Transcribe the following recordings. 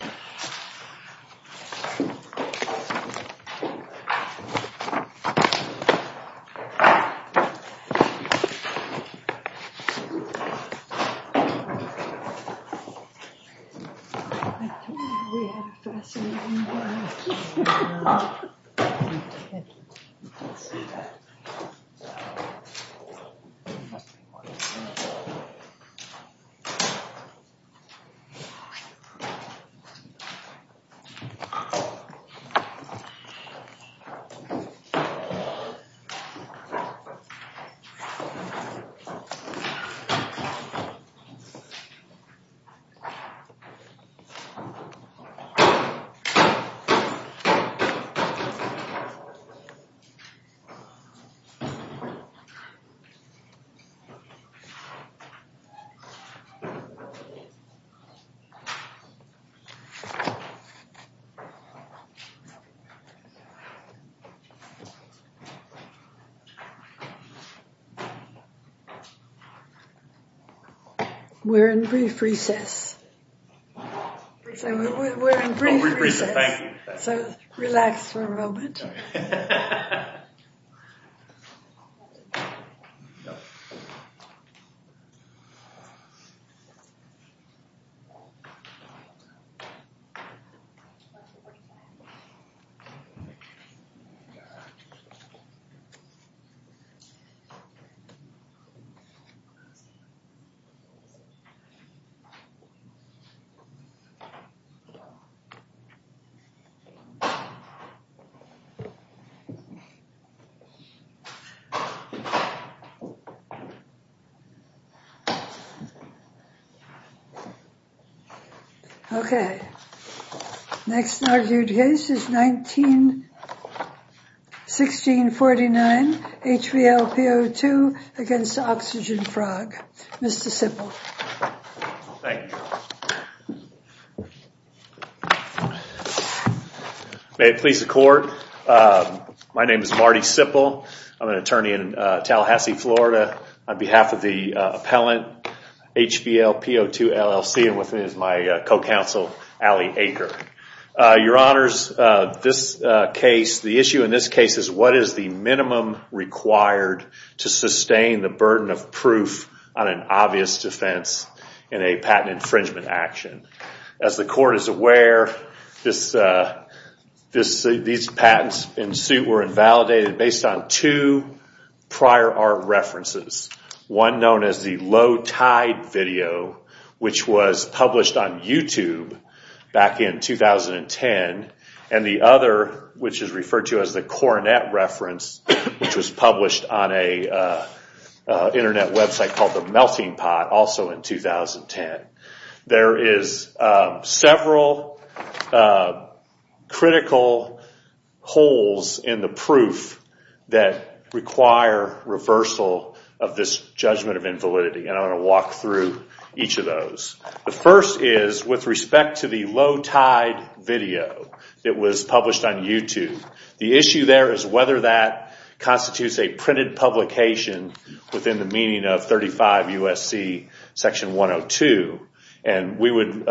I don't know why we have to ask so many questions, I don't know, I'm just kidding. You can't see that. We're in brief recess, we're in brief recess, so relax for a moment. Sorry. Okay. Next argued case is 19-1649, HVLPO2 against Oxygen Frog. Mr. Simple. Thank you. May it please the court. My name is Marty Simple. I'm an attorney in Tallahassee, Florida, on behalf of the appellant, HVLPO2 LLC, and with me is my co-counsel, Allie Aker. Your honors, this case, the issue in this case is what is the minimum required to sustain the burden of proof on an obvious defense in a patent infringement action. As the court is aware, these patents in suit were invalidated based on two prior art references. One known as the low tide video, which was published on YouTube back in 2010, and the other, which is referred to as the Coronet reference, which was published on an internet website called the Melting Pot, also in 2010. There is several critical holes in the proof that require reversal of this judgment of invalidity, and I'm going to walk through each of those. The first is with respect to the low tide video that was published on YouTube. The issue there is whether that constitutes a printed publication within the meaning of 35 U.S.C. section 102, and we would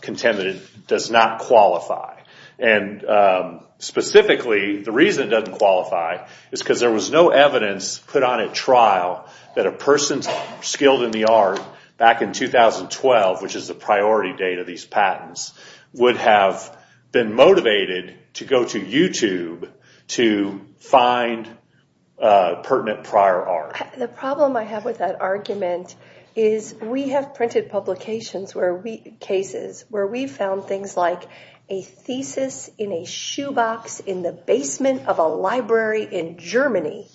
contend that it does not qualify. And specifically, the reason it doesn't qualify is because there was no evidence put on at which is the priority date of these patents, would have been motivated to go to YouTube to find pertinent prior art. The problem I have with that argument is we have printed publications, cases, where we found things like a thesis in a shoebox in the basement of a library in Germany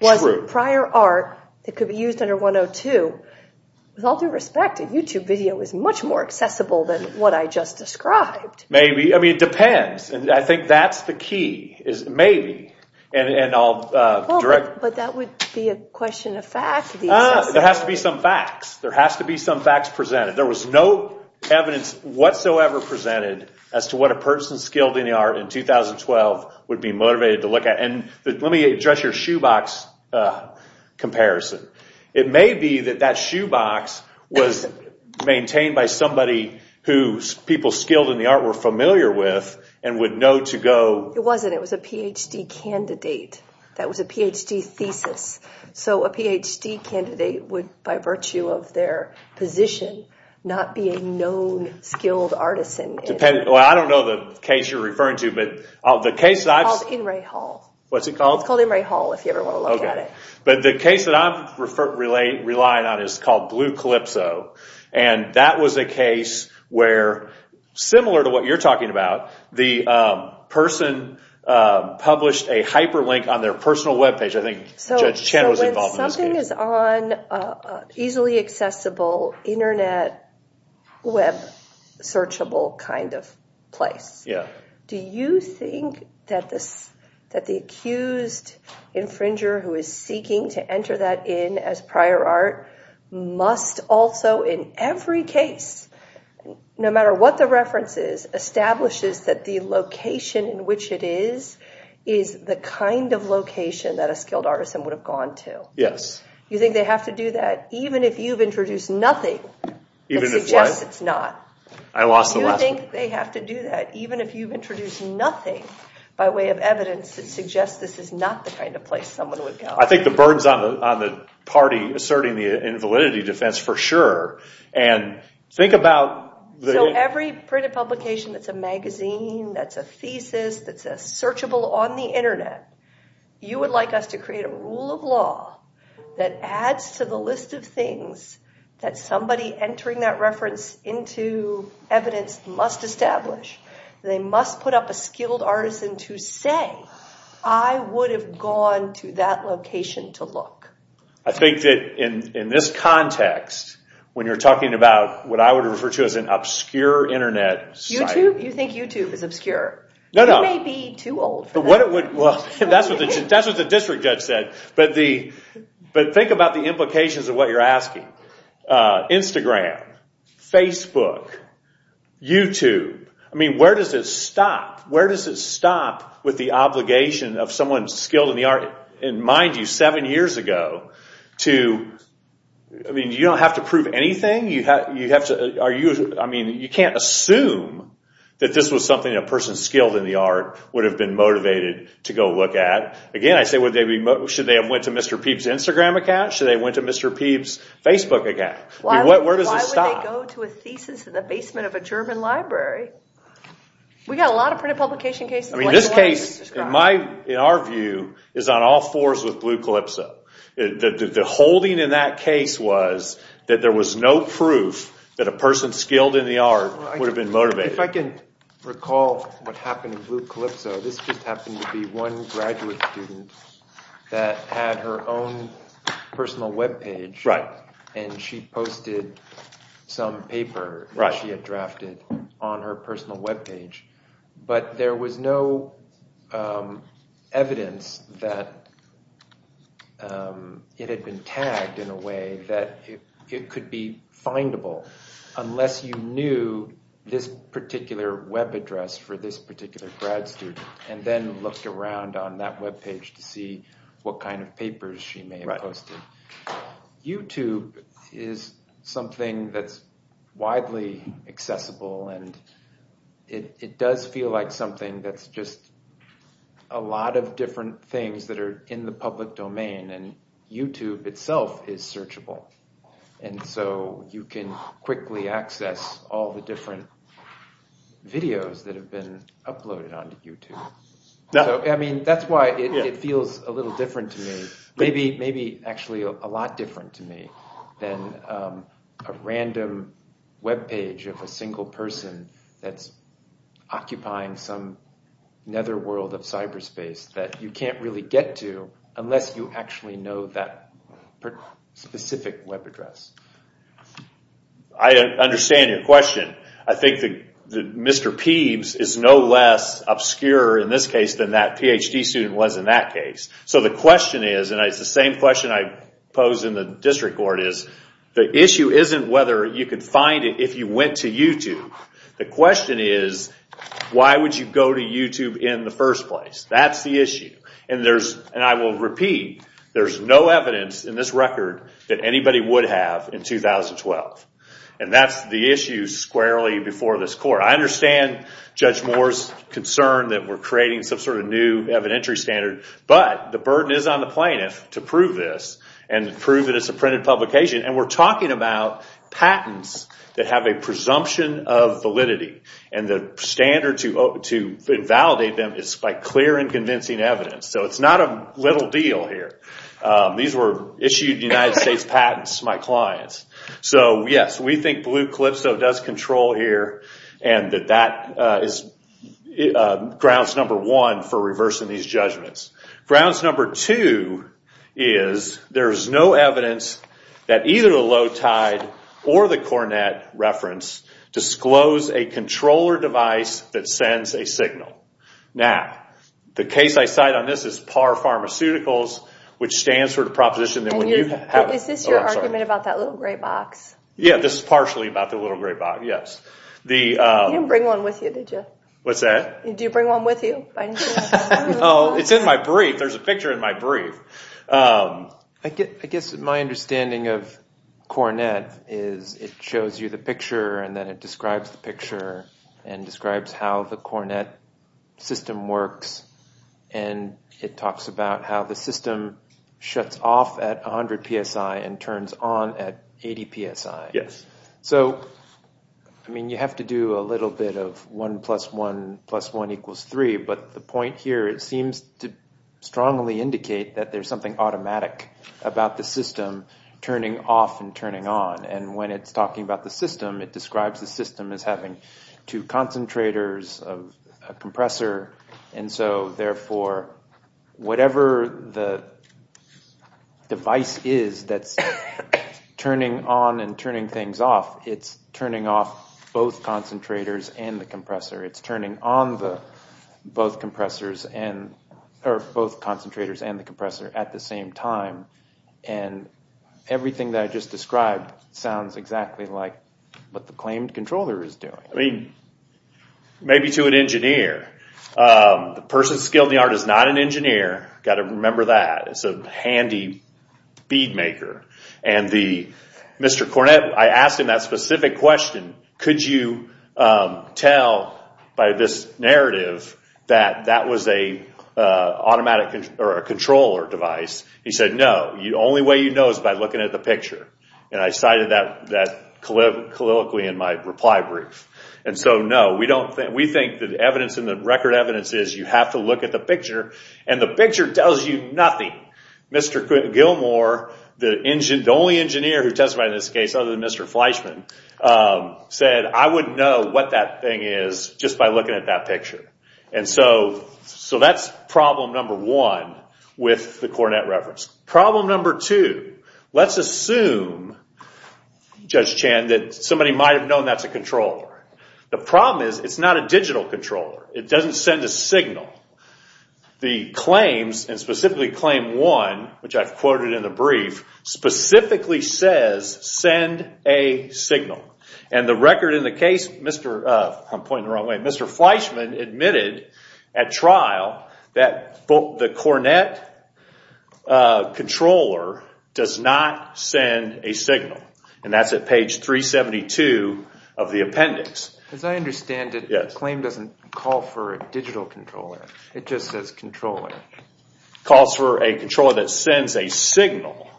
was prior art that could be used under 102. With all due respect, a YouTube video is much more accessible than what I just described. Maybe. I mean, it depends. I think that's the key, is maybe, and I'll direct. But that would be a question of fact. It has to be some facts. There has to be some facts presented. There was no evidence whatsoever presented as to what a person skilled in the art in 2012 would be motivated to look at. Let me address your shoebox comparison. It may be that that shoebox was maintained by somebody who people skilled in the art were familiar with and would know to go... It wasn't. It was a PhD candidate. That was a PhD thesis. So a PhD candidate would, by virtue of their position, not be a known skilled artisan. I don't know the case you're referring to, but the case that I've... It's called In Ray Hall. What's it called? It's called In Ray Hall, if you ever want to look at it. But the case that I'm relying on is called Blue Calypso, and that was a case where, similar to what you're talking about, the person published a hyperlink on their personal web page. I think Judge Chan was involved in this case. Everything is on an easily accessible internet web searchable kind of place. Do you think that the accused infringer who is seeking to enter that in as prior art must also in every case, no matter what the reference is, establishes that the location in which it is, is the kind of location that a skilled artisan would have gone to? Yes. You think they have to do that, even if you've introduced nothing that suggests it's not? I lost the last one. Do you think they have to do that, even if you've introduced nothing by way of evidence that suggests this is not the kind of place someone would go? I think the burden's on the party asserting the invalidity defense for sure, and think about the... So every printed publication that's a magazine, that's a thesis, that's a searchable on the adds to the list of things that somebody entering that reference into evidence must establish. They must put up a skilled artisan to say, I would have gone to that location to look. I think that in this context, when you're talking about what I would refer to as an obscure internet site... YouTube? You think YouTube is obscure? No, no. You may be too old for that. That's what the district judge said, but think about the implications of what you're asking. Instagram, Facebook, YouTube. Where does it stop? Where does it stop with the obligation of someone skilled in the art, and mind you, seven years ago to... You don't have to prove anything. You can't assume that this was something a person skilled in the art would have been motivated to go look at. Again, I say, should they have went to Mr. Peeb's Instagram account? Should they have went to Mr. Peeb's Facebook account? Where does it stop? Why would they go to a thesis in the basement of a German library? We got a lot of printed publication cases. This case, in our view, is on all fours with Blue Calypso. The holding in that case was that there was no proof that a person skilled in the art would have been motivated. If I can recall what happened in Blue Calypso, this just happened to be one graduate student that had her own personal webpage, and she posted some paper that she had drafted on her personal webpage. But there was no evidence that it had been tagged in a way that it could be findable unless you knew this particular web address for this particular grad student, and then looked around on that webpage to see what kind of papers she may have posted. YouTube is something that's widely accessible, and it does feel like something that's just a lot of different things that are in the public domain, and YouTube itself is searchable, and so you can quickly access all the different videos that have been uploaded onto YouTube. That's why it feels a little different to me. Maybe actually a lot different to me than a random webpage of a single person that's occupying some netherworld of cyberspace that you can't really get to unless you actually know that specific web address. I understand your question. I think that Mr. Peebs is no less obscure in this case than that PhD student was in that case. The question is, and it's the same question I posed in the district court, the issue isn't whether you could find it if you went to YouTube. The question is, why would you go to YouTube in the first place? That's the issue, and I will repeat, there's no evidence in this record that anybody would have in 2012, and that's the issue squarely before this court. I understand Judge Moore's concern that we're creating some sort of new evidentiary standard, but the burden is on the plaintiff to prove this, and prove that it's a printed publication, and we're talking about patents that have a presumption of validity, and the standard to invalidate them is by clear and convincing evidence, so it's not a little deal here. These were issued United States patents to my clients, so yes, we think Blue Calypso does control here, and that that is grounds number one for reversing these judgments. Grounds number two is, there's no evidence that either the Low Tide or the Cornette reference disclose a controller device that sends a signal. Now, the case I cite on this is Par Pharmaceuticals, which stands for the proposition that when you have... Is this your argument about that little gray box? Yeah, this is partially about the little gray box, yes. You didn't bring one with you, did you? What's that? Did you bring one with you? No, it's in my brief. There's a picture in my brief. I guess my understanding of Cornette is it shows you the picture, and then it describes the picture, and describes how the Cornette system works, and it talks about how the system shuts off at 100 PSI and turns on at 80 PSI. Yes. So, I mean, you have to do a little bit of one plus one plus one equals three, but the point here, it seems to strongly indicate that there's something automatic about the system turning off and turning on. And when it's talking about the system, it describes the system as having two concentrators, a compressor, and so, therefore, whatever the device is that's turning on and turning things off, it's turning off both concentrators and the compressor. It's turning on both concentrators and the compressor at the same time, and everything that I just described sounds exactly like what the claimed controller is doing. I mean, maybe to an engineer. The person skilled in the art is not an engineer. Got to remember that. It's a handy bead maker. And Mr. Cornette, I asked him that specific question. Could you tell by this narrative that that was a controller device? He said, no. Only way you know is by looking at the picture. And I cited that colloquially in my reply brief. And so, no, we think the record evidence is you have to look at the picture, and the picture tells you nothing. Mr. Gilmore, the only engineer who testified in this case other than Mr. Fleischman, said I wouldn't know what that thing is just by looking at that picture. And so, that's problem number one with the Cornette reference. Problem number two, let's assume, Judge Chan, that somebody might have known that's a controller. The problem is it's not a digital controller. It doesn't send a signal. The claims, and specifically claim one, which I've quoted in the brief, specifically says send a signal. And the record in the case, I'm pointing the wrong way, Mr. Fleischman admitted at trial that the Cornette controller does not send a signal. And that's at page 372 of the appendix. As I understand it, the claim doesn't call for a digital controller. It just says controller. It calls for a controller that sends a signal.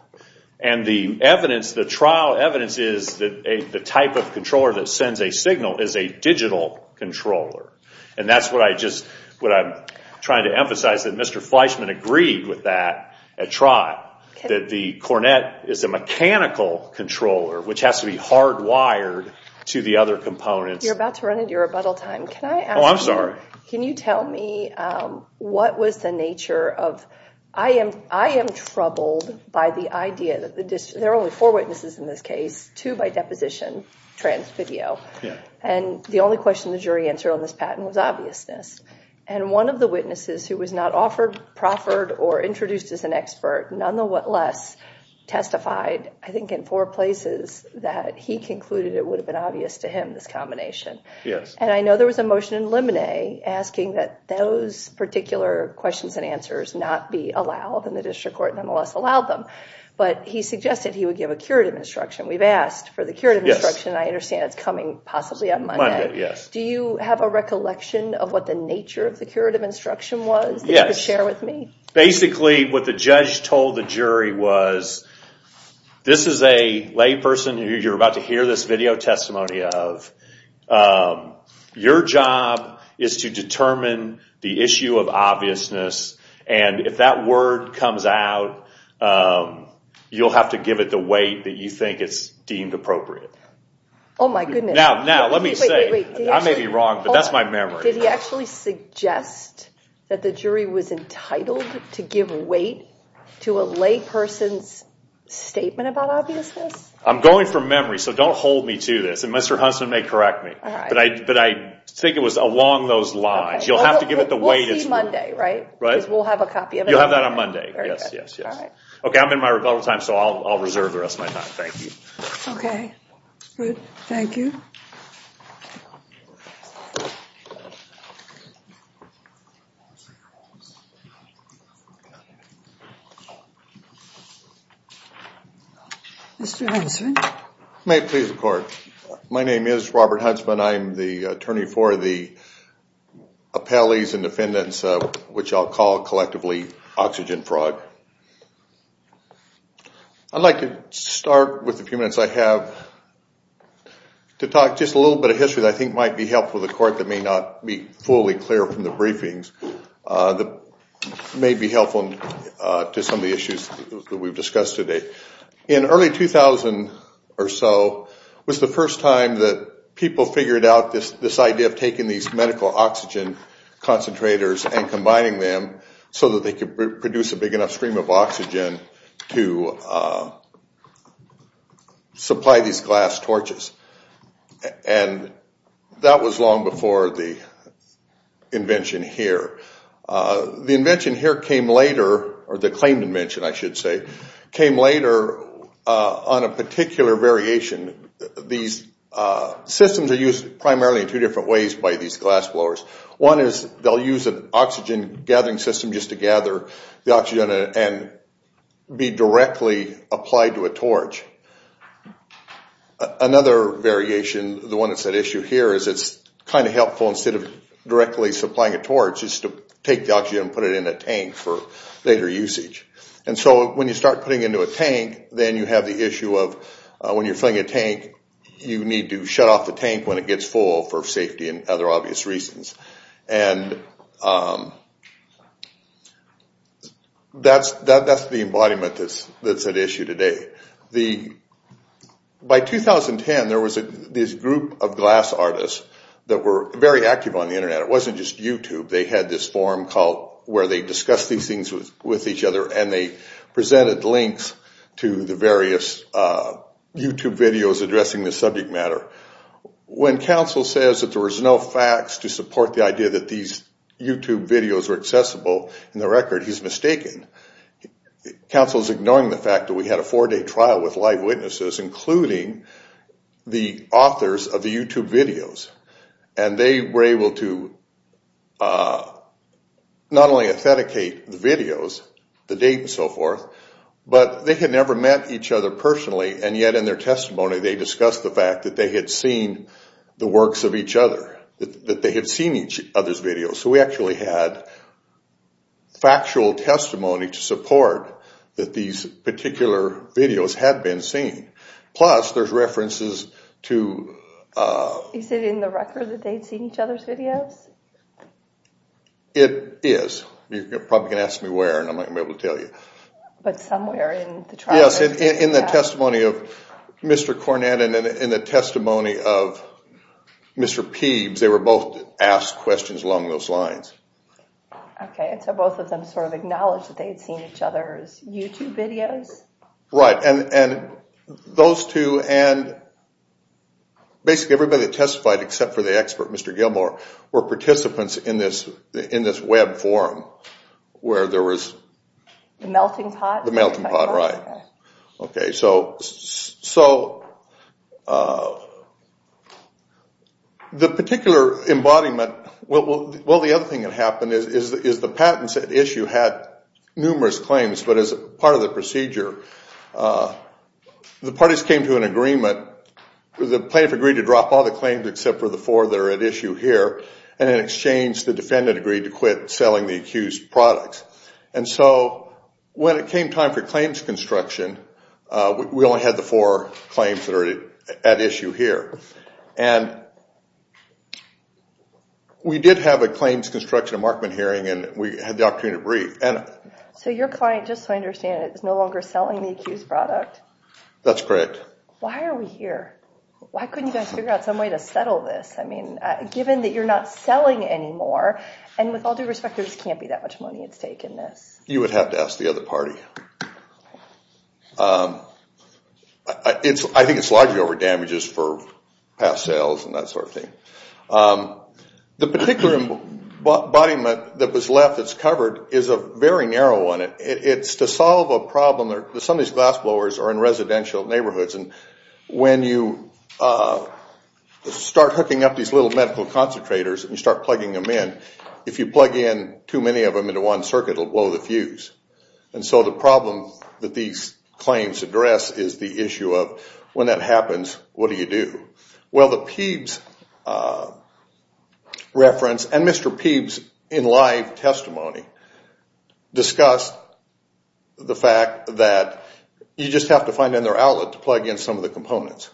And the evidence, the trial evidence is that the type of controller that sends a signal is a digital controller. And that's what I just, what I'm trying to emphasize, that Mr. Fleischman agreed with that at trial. That the Cornette is a mechanical controller, which has to be hardwired to the other components. You're about to run into your rebuttal time. Can I ask you? Oh, I'm sorry. Can you tell me what was the nature of, I am troubled by the idea that, there are only four witnesses in this case, two by deposition, trans video. And the only question the jury answered on this patent was obviousness. And one of the witnesses who was not offered, proffered, or introduced as an expert, none the less testified, I think in four places, that he concluded it would have been obvious to him, this combination. And I know there was a motion in Lemonet asking that those particular questions and answers not be allowed in the district court, nonetheless allowed them. But he suggested he would give a curative instruction. We've asked for the curative instruction. I understand it's coming possibly on Monday. Do you have a recollection of what the nature of the curative instruction was that you could share with me? Basically, what the judge told the jury was, this is a layperson who you're about to hear this video testimony of. Your job is to determine the issue of obviousness. And if that word comes out, you'll have to give it the weight that you think is deemed appropriate. Oh, my goodness. Now, let me say, I may be wrong, but that's my memory. Did he actually suggest that the jury was entitled to give weight to a layperson's statement about obviousness? I'm going from memory, so don't hold me to this. And Mr. Huntsman may correct me, but I think it was along those lines. You'll have to give it the weight. We'll see Monday, right? Right. Because we'll have a copy of it. You'll have that on Monday, yes, yes, yes. OK, I'm in my rebuttal time, so I'll reserve the rest of my time. Thank you. OK, good. Thank you. Mr. Huntsman. May it please the court. My name is Robert Huntsman. I'm the attorney for the appellees and defendants, which I'll call collectively oxygen fraud. I'd like to start with a few minutes I have to talk just a little bit of history that I think might be helpful to the court that may not be fully clear from the briefings, that may be helpful to some of the issues that we've discussed today. In early 2000 or so was the first time that people figured out this idea of taking these medical oxygen concentrators and combining them so that they could produce a big enough stream of oxygen to supply these glass torches. And that was long before the invention here. The invention here came later, or the claimed invention, I should say, came later on a particular variation. These systems are used primarily in two different ways by these glass blowers. One is they'll use an oxygen gathering system just to gather the oxygen and be directly applied to a torch. Another variation, the one that's at issue here, is it's kind of helpful instead of directly supplying a torch is to take the oxygen and put it in a tank for later usage. And so when you start putting it into a tank, then you have the issue of when you're filling a tank, you need to shut off the tank when it gets full for safety and other obvious reasons. And that's the embodiment that's at issue today. By 2010, there was this group of glass artists that were very active on the Internet. It wasn't just YouTube. They had this forum where they discussed these things with each other, and they presented links to the various YouTube videos addressing the subject matter. When counsel says that there was no facts to support the idea that these YouTube videos were accessible in the record, he's mistaken. Counsel's ignoring the fact that we had a four-day trial with live witnesses, including the authors of the YouTube videos. And they were able to not only authenticate the videos, the date and so forth, but they had never met each other personally, and yet in their testimony, they discussed the fact that they had seen the works of each other, that they had seen each other's videos. So we actually had factual testimony to support that these particular videos had been seen. Plus, there's references to... Is it in the record that they'd seen each other's videos? It is. You're probably going to ask me where, and I'm not going to be able to tell you. But somewhere in the trial... In the testimony of Mr. Cornett and in the testimony of Mr. Peebs, they were both asked questions along those lines. Okay, so both of them sort of acknowledged that they'd seen each other's YouTube videos? Right, and those two and basically everybody that testified except for the expert, Mr. Gilmore, were participants in this web forum where there was... The melting pot? The melting pot, right. Okay, so the particular embodiment... Well, the other thing that happened is the patents at issue had numerous claims, but as part of the procedure, the parties came to an agreement. The plaintiff agreed to drop all the claims except for the four that are at issue here, and in exchange, the defendant agreed to quit selling the accused products. And so when it came time for claims construction, we only had the four claims that are at issue here. And we did have a claims construction, a Markman hearing, and we had the opportunity to brief. So your client, just so I understand, is no longer selling the accused product? That's correct. Why are we here? Why couldn't you guys figure out some way to settle this? I mean, given that you're not selling anymore, and with all due respect, there just can't be that much money at stake in this. You would have to ask the other party. I think it's largely over damages for past sales and that sort of thing. The particular embodiment that was left that's covered is a very narrow one. It's to solve a problem that some of these glassblowers are in residential neighborhoods, and when you start hooking up these little medical concentrators and you start plugging them in, if you plug in too many of them into one circuit, it'll blow the fuse. And so the problem that these claims address is the issue of when that happens, what do you do? Well, the Peebs reference, and Mr. Peebs in live testimony, discussed the fact that you just have to find another outlet to plug in some of the components.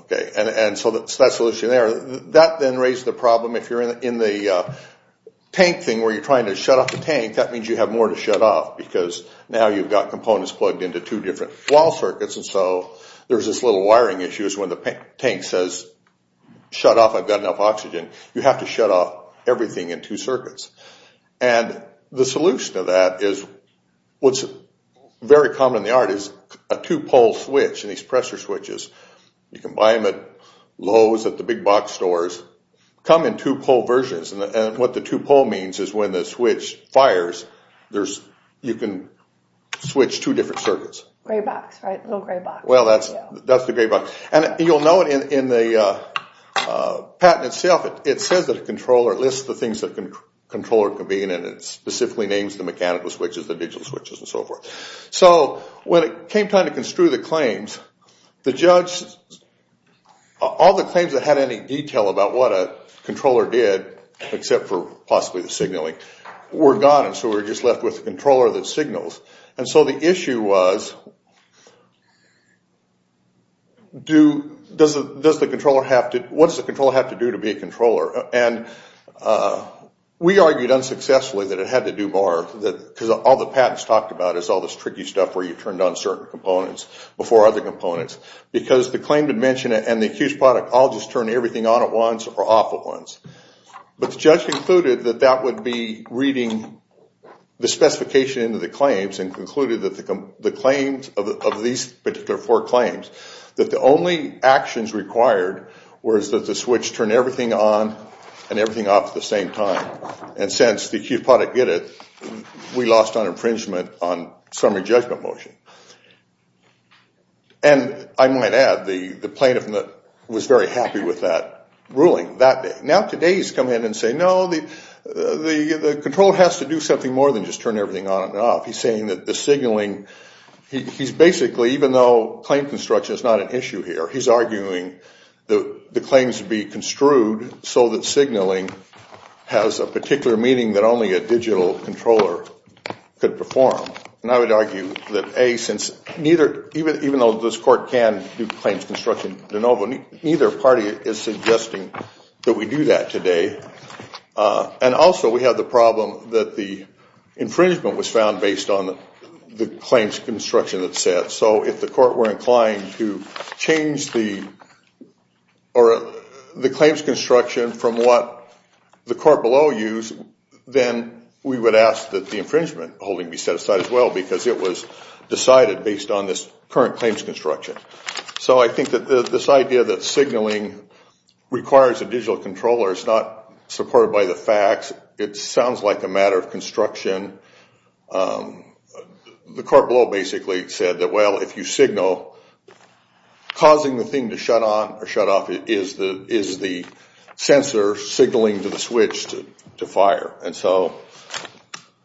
Okay, and so that's the solution there. That then raised the problem if you're in the tank thing where you're trying to shut off the tank, that means you have more to shut off because now you've got components plugged into two different wall circuits. And so there's this little wiring issue is when the tank says, shut off, I've got enough oxygen. You have to shut off everything in two circuits. And the solution to that is what's very common in the art is a two-pole switch in these pressure switches. You can buy them at Lowe's, at the big box stores. Come in two-pole versions, and what the two-pole means is when the switch fires, you can switch two different circuits. Gray box, right, little gray box. Well, that's the gray box. And you'll know it in the patent itself, it says that a controller, it lists the things that a controller can be in and it specifically names the mechanical switches, the digital switches, and so forth. So when it came time to construe the claims, the judge, all the claims that had any detail about what a controller did, except for possibly the signaling, were gone. And so we were just left with the controller that signals. And so the issue was, what does the controller have to do to be a controller? And we argued unsuccessfully that it had to do more because all the patents talked about is all this tricky stuff where you turned on certain components before other components. Because the claim would mention it and the accused product, I'll just turn everything on at once or off at once. But the judge concluded that that would be reading the specification into the claims and concluded that the claims of these particular four claims, that the only actions required was that the switch turn everything on and everything off at the same time. And since the accused product did it, we lost on infringement on summary judgment motion. And I might add, the plaintiff was very happy with that ruling that day. Now today, he's come in and say, no, the controller has to do something more than just turn everything on and off. He's saying that the signaling, he's basically, even though claim construction is not an issue here, he's arguing that the claims would be construed so that signaling has a particular meaning that only a digital controller could perform. And I would argue that, A, since neither, even though this court can do claims construction de novo, neither party is suggesting that we do that today. And also, we have the problem that the infringement was found based on the claims construction that's set. So if the court were inclined to change the claims construction from what the court below used, then we would ask that the infringement holding be set aside as well because it was decided based on this current claims construction. So I think that this idea that signaling requires a digital controller is not supported by the facts. It sounds like a matter of construction. And the court below basically said that, well, if you signal, causing the thing to shut on or shut off is the sensor signaling to the switch to fire. And so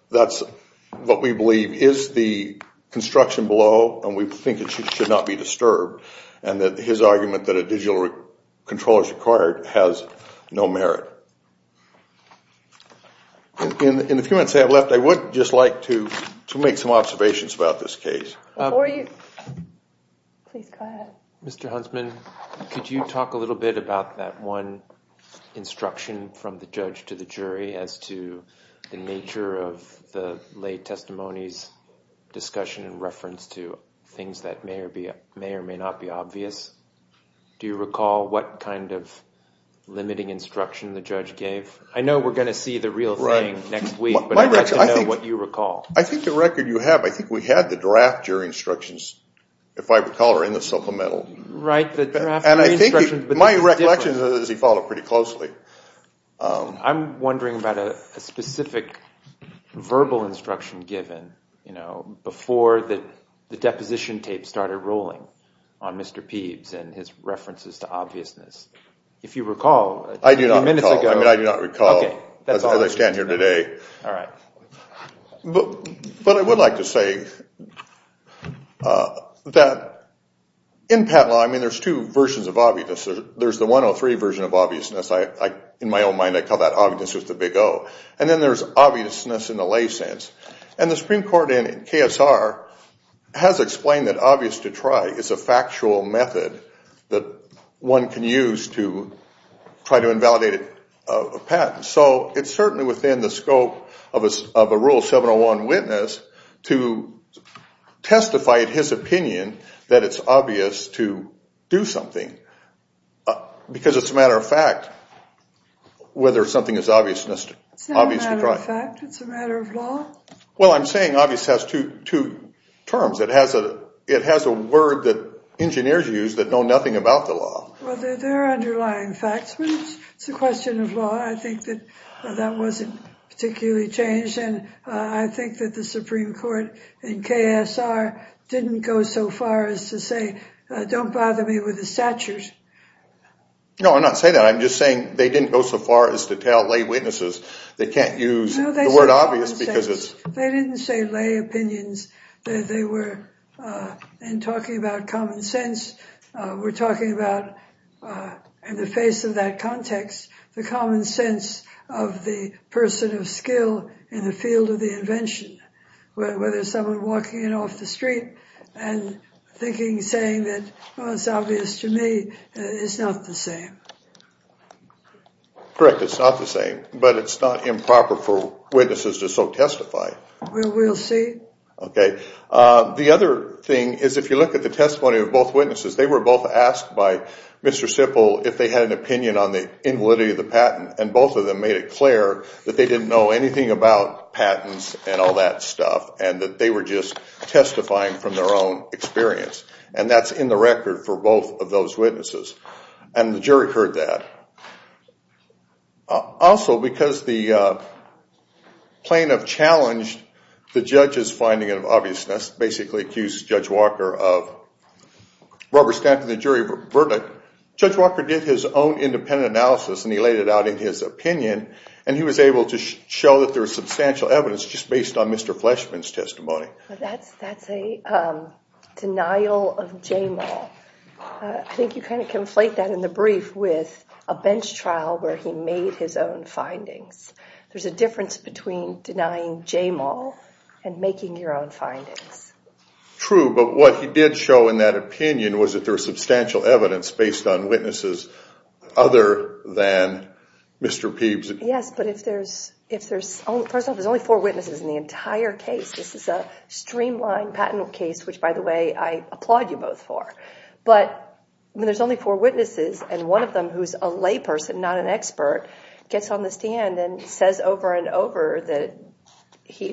that's what we believe is the construction below. And we think it should not be disturbed. And that his argument that a digital controller is required has no merit. In the few minutes I have left, I would just like to make some observations about this case. Before you, please go ahead. Mr. Huntsman, could you talk a little bit about that one instruction from the judge to the jury as to the nature of the late testimony's discussion and reference to things that may or may not be obvious? I know we're going to see the real thing next week, but I'd like to know what you recall. I think the record you have, I think we had the draft jury instructions, if I recall, are in the supplemental. Right, the draft jury instructions. My recollection is he followed pretty closely. I'm wondering about a specific verbal instruction given, you know, before the deposition tape started rolling on Mr. Peebs and his references to obviousness. If you recall, a few minutes ago. I do not recall. I mean, I do not recall as I stand here today. All right. But I would like to say that in patent law, I mean, there's two versions of obviousness. There's the 103 version of obviousness. In my own mind, I call that obviousness with a big O. And then there's obviousness in the lay sense. And the Supreme Court in KSR has explained that obvious to try is a factual method that one can use to try to invalidate a patent. So it's certainly within the scope of a rule 701 witness to testify at his opinion that it's obvious to do something. Because it's a matter of fact whether something is obviousness. It's not a matter of fact. It's a matter of law. Well, I'm saying obvious has two terms. It has a word that engineers use that know nothing about the law. Well, there are underlying facts. But it's a question of law. I think that that wasn't particularly changed. And I think that the Supreme Court in KSR didn't go so far as to say, don't bother me with the stature. No, I'm not saying that. I'm just saying they didn't go so far as to tell lay witnesses they can't use the word obvious because it's... They didn't say lay opinions. They were talking about common sense. We're talking about, in the face of that context, the common sense of the person of skill in the field of the invention. Whether someone walking in off the street and thinking, saying that it's obvious to me, it's not the same. Correct, it's not the same. But it's not improper for witnesses to so testify. Well, we'll see. Okay. The other thing is, if you look at the testimony of both witnesses, they were both asked by Mr. Sipple if they had an opinion on the invalidity of the patent. And both of them made it clear that they didn't know anything about patents and all that stuff. And that they were just testifying from their own experience. And that's in the record for both of those witnesses. And the jury heard that. Also, because the plaintiff challenged the judge's finding of obviousness, basically accused Judge Walker of rubber-stamping the jury verdict, Judge Walker did his own independent analysis and he laid it out in his opinion. And he was able to show that there was substantial evidence, just based on Mr. Fleshman's testimony. But that's a denial of J-Mall. I think you kind of conflate that in the brief with a bench trial where he made his own findings. There's a difference between denying J-Mall and making your own findings. True. But what he did show in that opinion was that there was substantial evidence based on witnesses other than Mr. Peebs. Yes. But if there's, first off, there's only four witnesses in the entire case. This is a streamlined patent case, which, by the way, I applaud you both for. But when there's only four witnesses and one of them who's a layperson, not an expert, gets on the stand and says over and over that he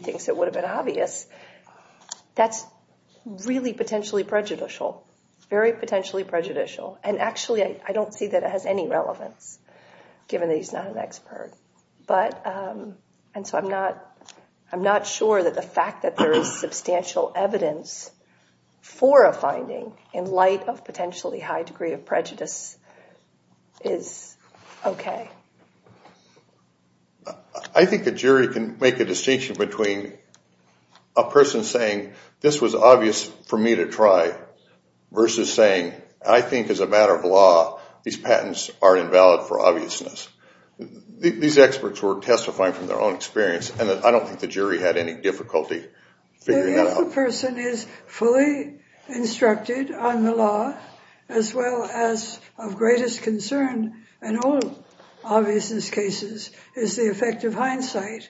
thinks it would have been obvious, that's really potentially prejudicial, very potentially prejudicial. And actually, I don't see that it has any relevance, given that he's not an expert. And so I'm not sure that the fact that there is substantial evidence for a finding in light of potentially high degree of prejudice is OK. I think a jury can make a distinction between a person saying, this was obvious for me to try versus saying, I think as a matter of law, these patents are invalid for obviousness. These experts were testifying from their own experience, and I don't think the jury had any difficulty figuring that out. A person is fully instructed on the law as well as of greatest concern in all obviousness cases is the effect of hindsight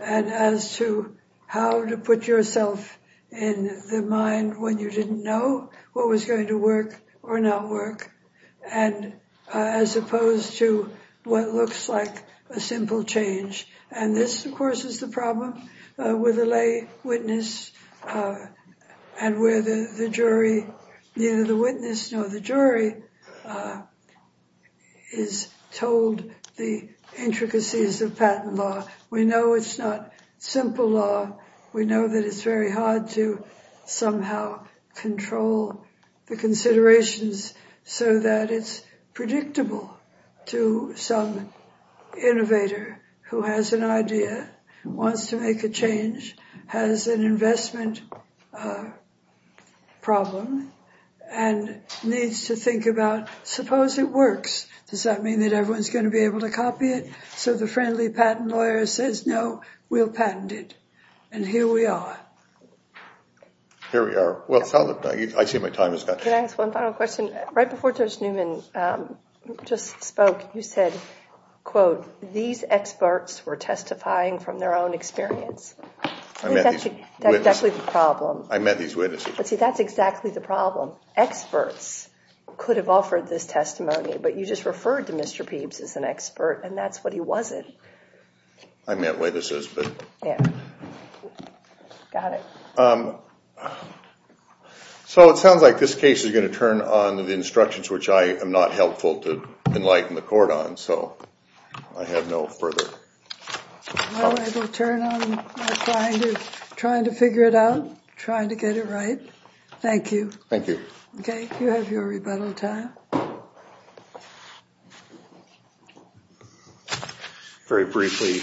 and as to how to put yourself in the mind when you didn't know what was going to work or not work, and as opposed to what looks like a simple change. And this, of course, is the problem with a lay witness, and where the jury, neither the witness nor the jury, is told the intricacies of patent law. We know it's not simple law. We know that it's very hard to somehow control the considerations so that it's predictable to some innovator who has an idea, wants to make a change, has an investment problem, and needs to think about, suppose it works. Does that mean that everyone's going to be able to copy it? So the friendly patent lawyer says, no, we'll patent it. And here we are. Here we are. Well, I see my time has gone. Can I ask one final question? Right before Judge Newman just spoke, you said, quote, these experts were testifying from their own experience. I met these witnesses. That's exactly the problem. I met these witnesses. See, that's exactly the problem. Experts could have offered this testimony, but you just referred to Mr. Peebs as an expert, and that's what he wasn't. I meant witnesses, but. Yeah. Got it. So it sounds like this case is going to turn on the instructions, which I am not helpful to enlighten the court on. So I have no further thoughts. Well, I will turn on trying to figure it out, trying to get it right. Thank you. Thank you. OK, you have your rebuttal time. All right. Very briefly,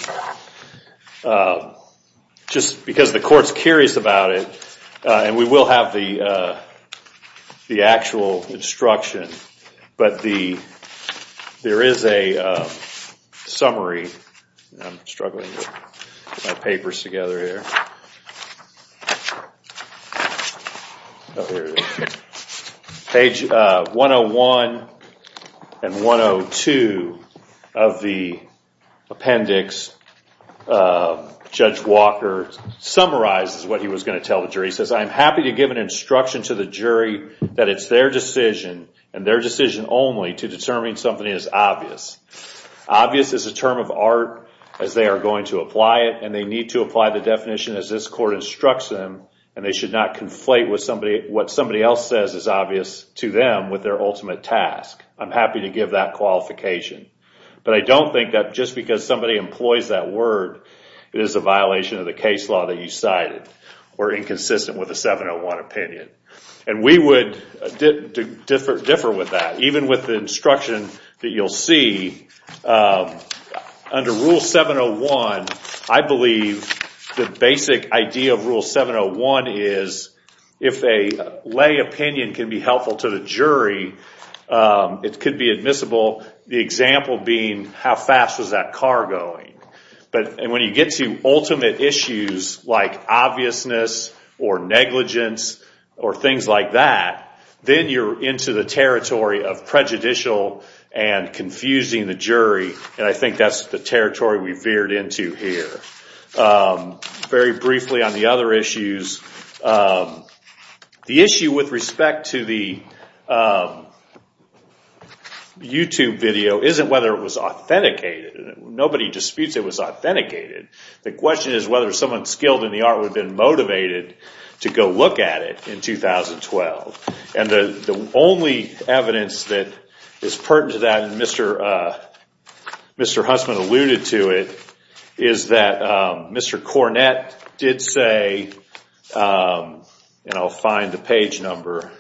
just because the court's curious about it, and we will have the actual instruction, but there is a summary. I'm struggling to get my papers together here. Oh, here it is. Page 101 and 102 of the appendix, Judge Walker summarizes what he was going to tell the jury. He says, I'm happy to give an instruction to the jury that it's their decision, and their decision only, to determine something as obvious. Obvious is a term of art, as they are going to apply it, and they need to apply the definition as this court instructs them, and they should not conflate what somebody else says as obvious to them with their ultimate task. I'm happy to give that qualification. But I don't think that just because somebody employs that word, it is a violation of the case law that you cited, or inconsistent with the 701 opinion. And we would differ with that. Even with the instruction that you'll see, under Rule 701, I believe the basic idea of Rule 701 is, if a lay opinion can be helpful to the jury, it could be admissible, the example being, how fast was that car going? And when you get to ultimate issues, like obviousness, or negligence, or things like that, then you're into the territory of prejudicial and confusing the jury. And I think that's the territory we veered into here. Very briefly on the other issues, the issue with respect to the YouTube video isn't whether it was authenticated. Nobody disputes it was authenticated. The question is whether someone skilled in the art would have been motivated to go look at it in 2012. And the only evidence that is pertinent to that, and Mr. Hussman alluded to it, is that Mr. Cornett did say, and I'll find the page number.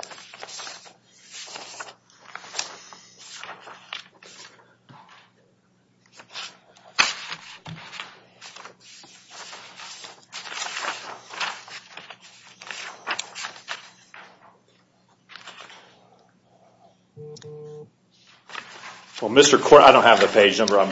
Well, Mr. Cornett, I don't have the page number. I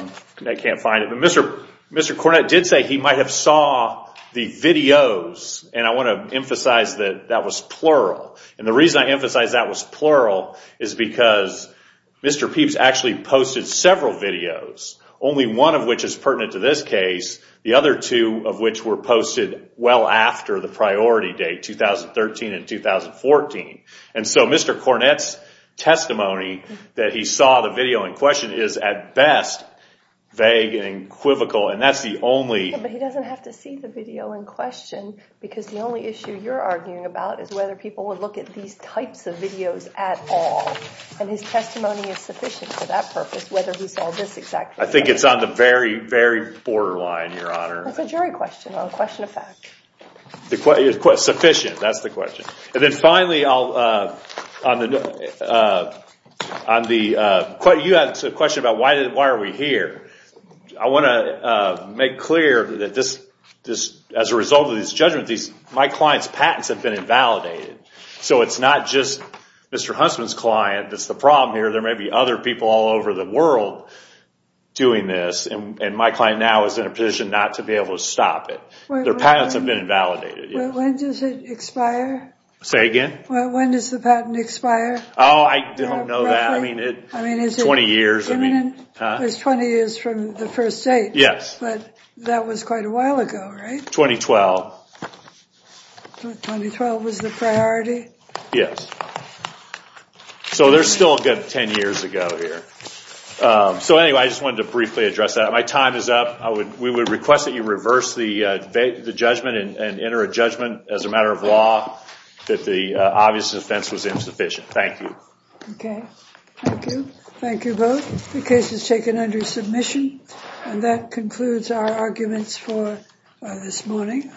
can't find it. Mr. Cornett did say he might have saw the videos, and I want to emphasize that that was plural. And the reason I emphasize that was plural is because Mr. Peebs actually posted several videos, only one of which is pertinent to this case, the other two of which were posted well after the priority date, 2013 and 2014. that he saw the video in question is at best vague and equivocal, and that's the only... Yeah, but he doesn't have to see the video in question because the only issue you're arguing about is whether people would look at these types of videos at all. And his testimony is sufficient for that purpose, whether he saw this exact video. I think it's on the very, very borderline, Your Honor. That's a jury question, not a question of fact. Sufficient, that's the question. And then finally, on the... You had a question about why are we here. I want to make clear that as a result of this judgment, my client's patents have been invalidated. So it's not just Mr. Huntsman's client that's the problem here. There may be other people all over the world doing this, and my client now is in a position not to be able to stop it. Their patents have been invalidated. When does it expire? Say again? When does the patent expire? Oh, I don't know that. 20 years. It's 20 years from the first date. Yes. But that was quite a while ago, right? 2012. 2012 was the priority? Yes. So there's still a good 10 years to go here. So anyway, I just wanted to briefly address that. My time is up. We would request that you reverse the judgment and enter a judgment as a matter of law that the obvious offense was insufficient. Thank you. Okay. Thank you. Thank you both. The case is taken under submission. And that concludes our arguments for this morning.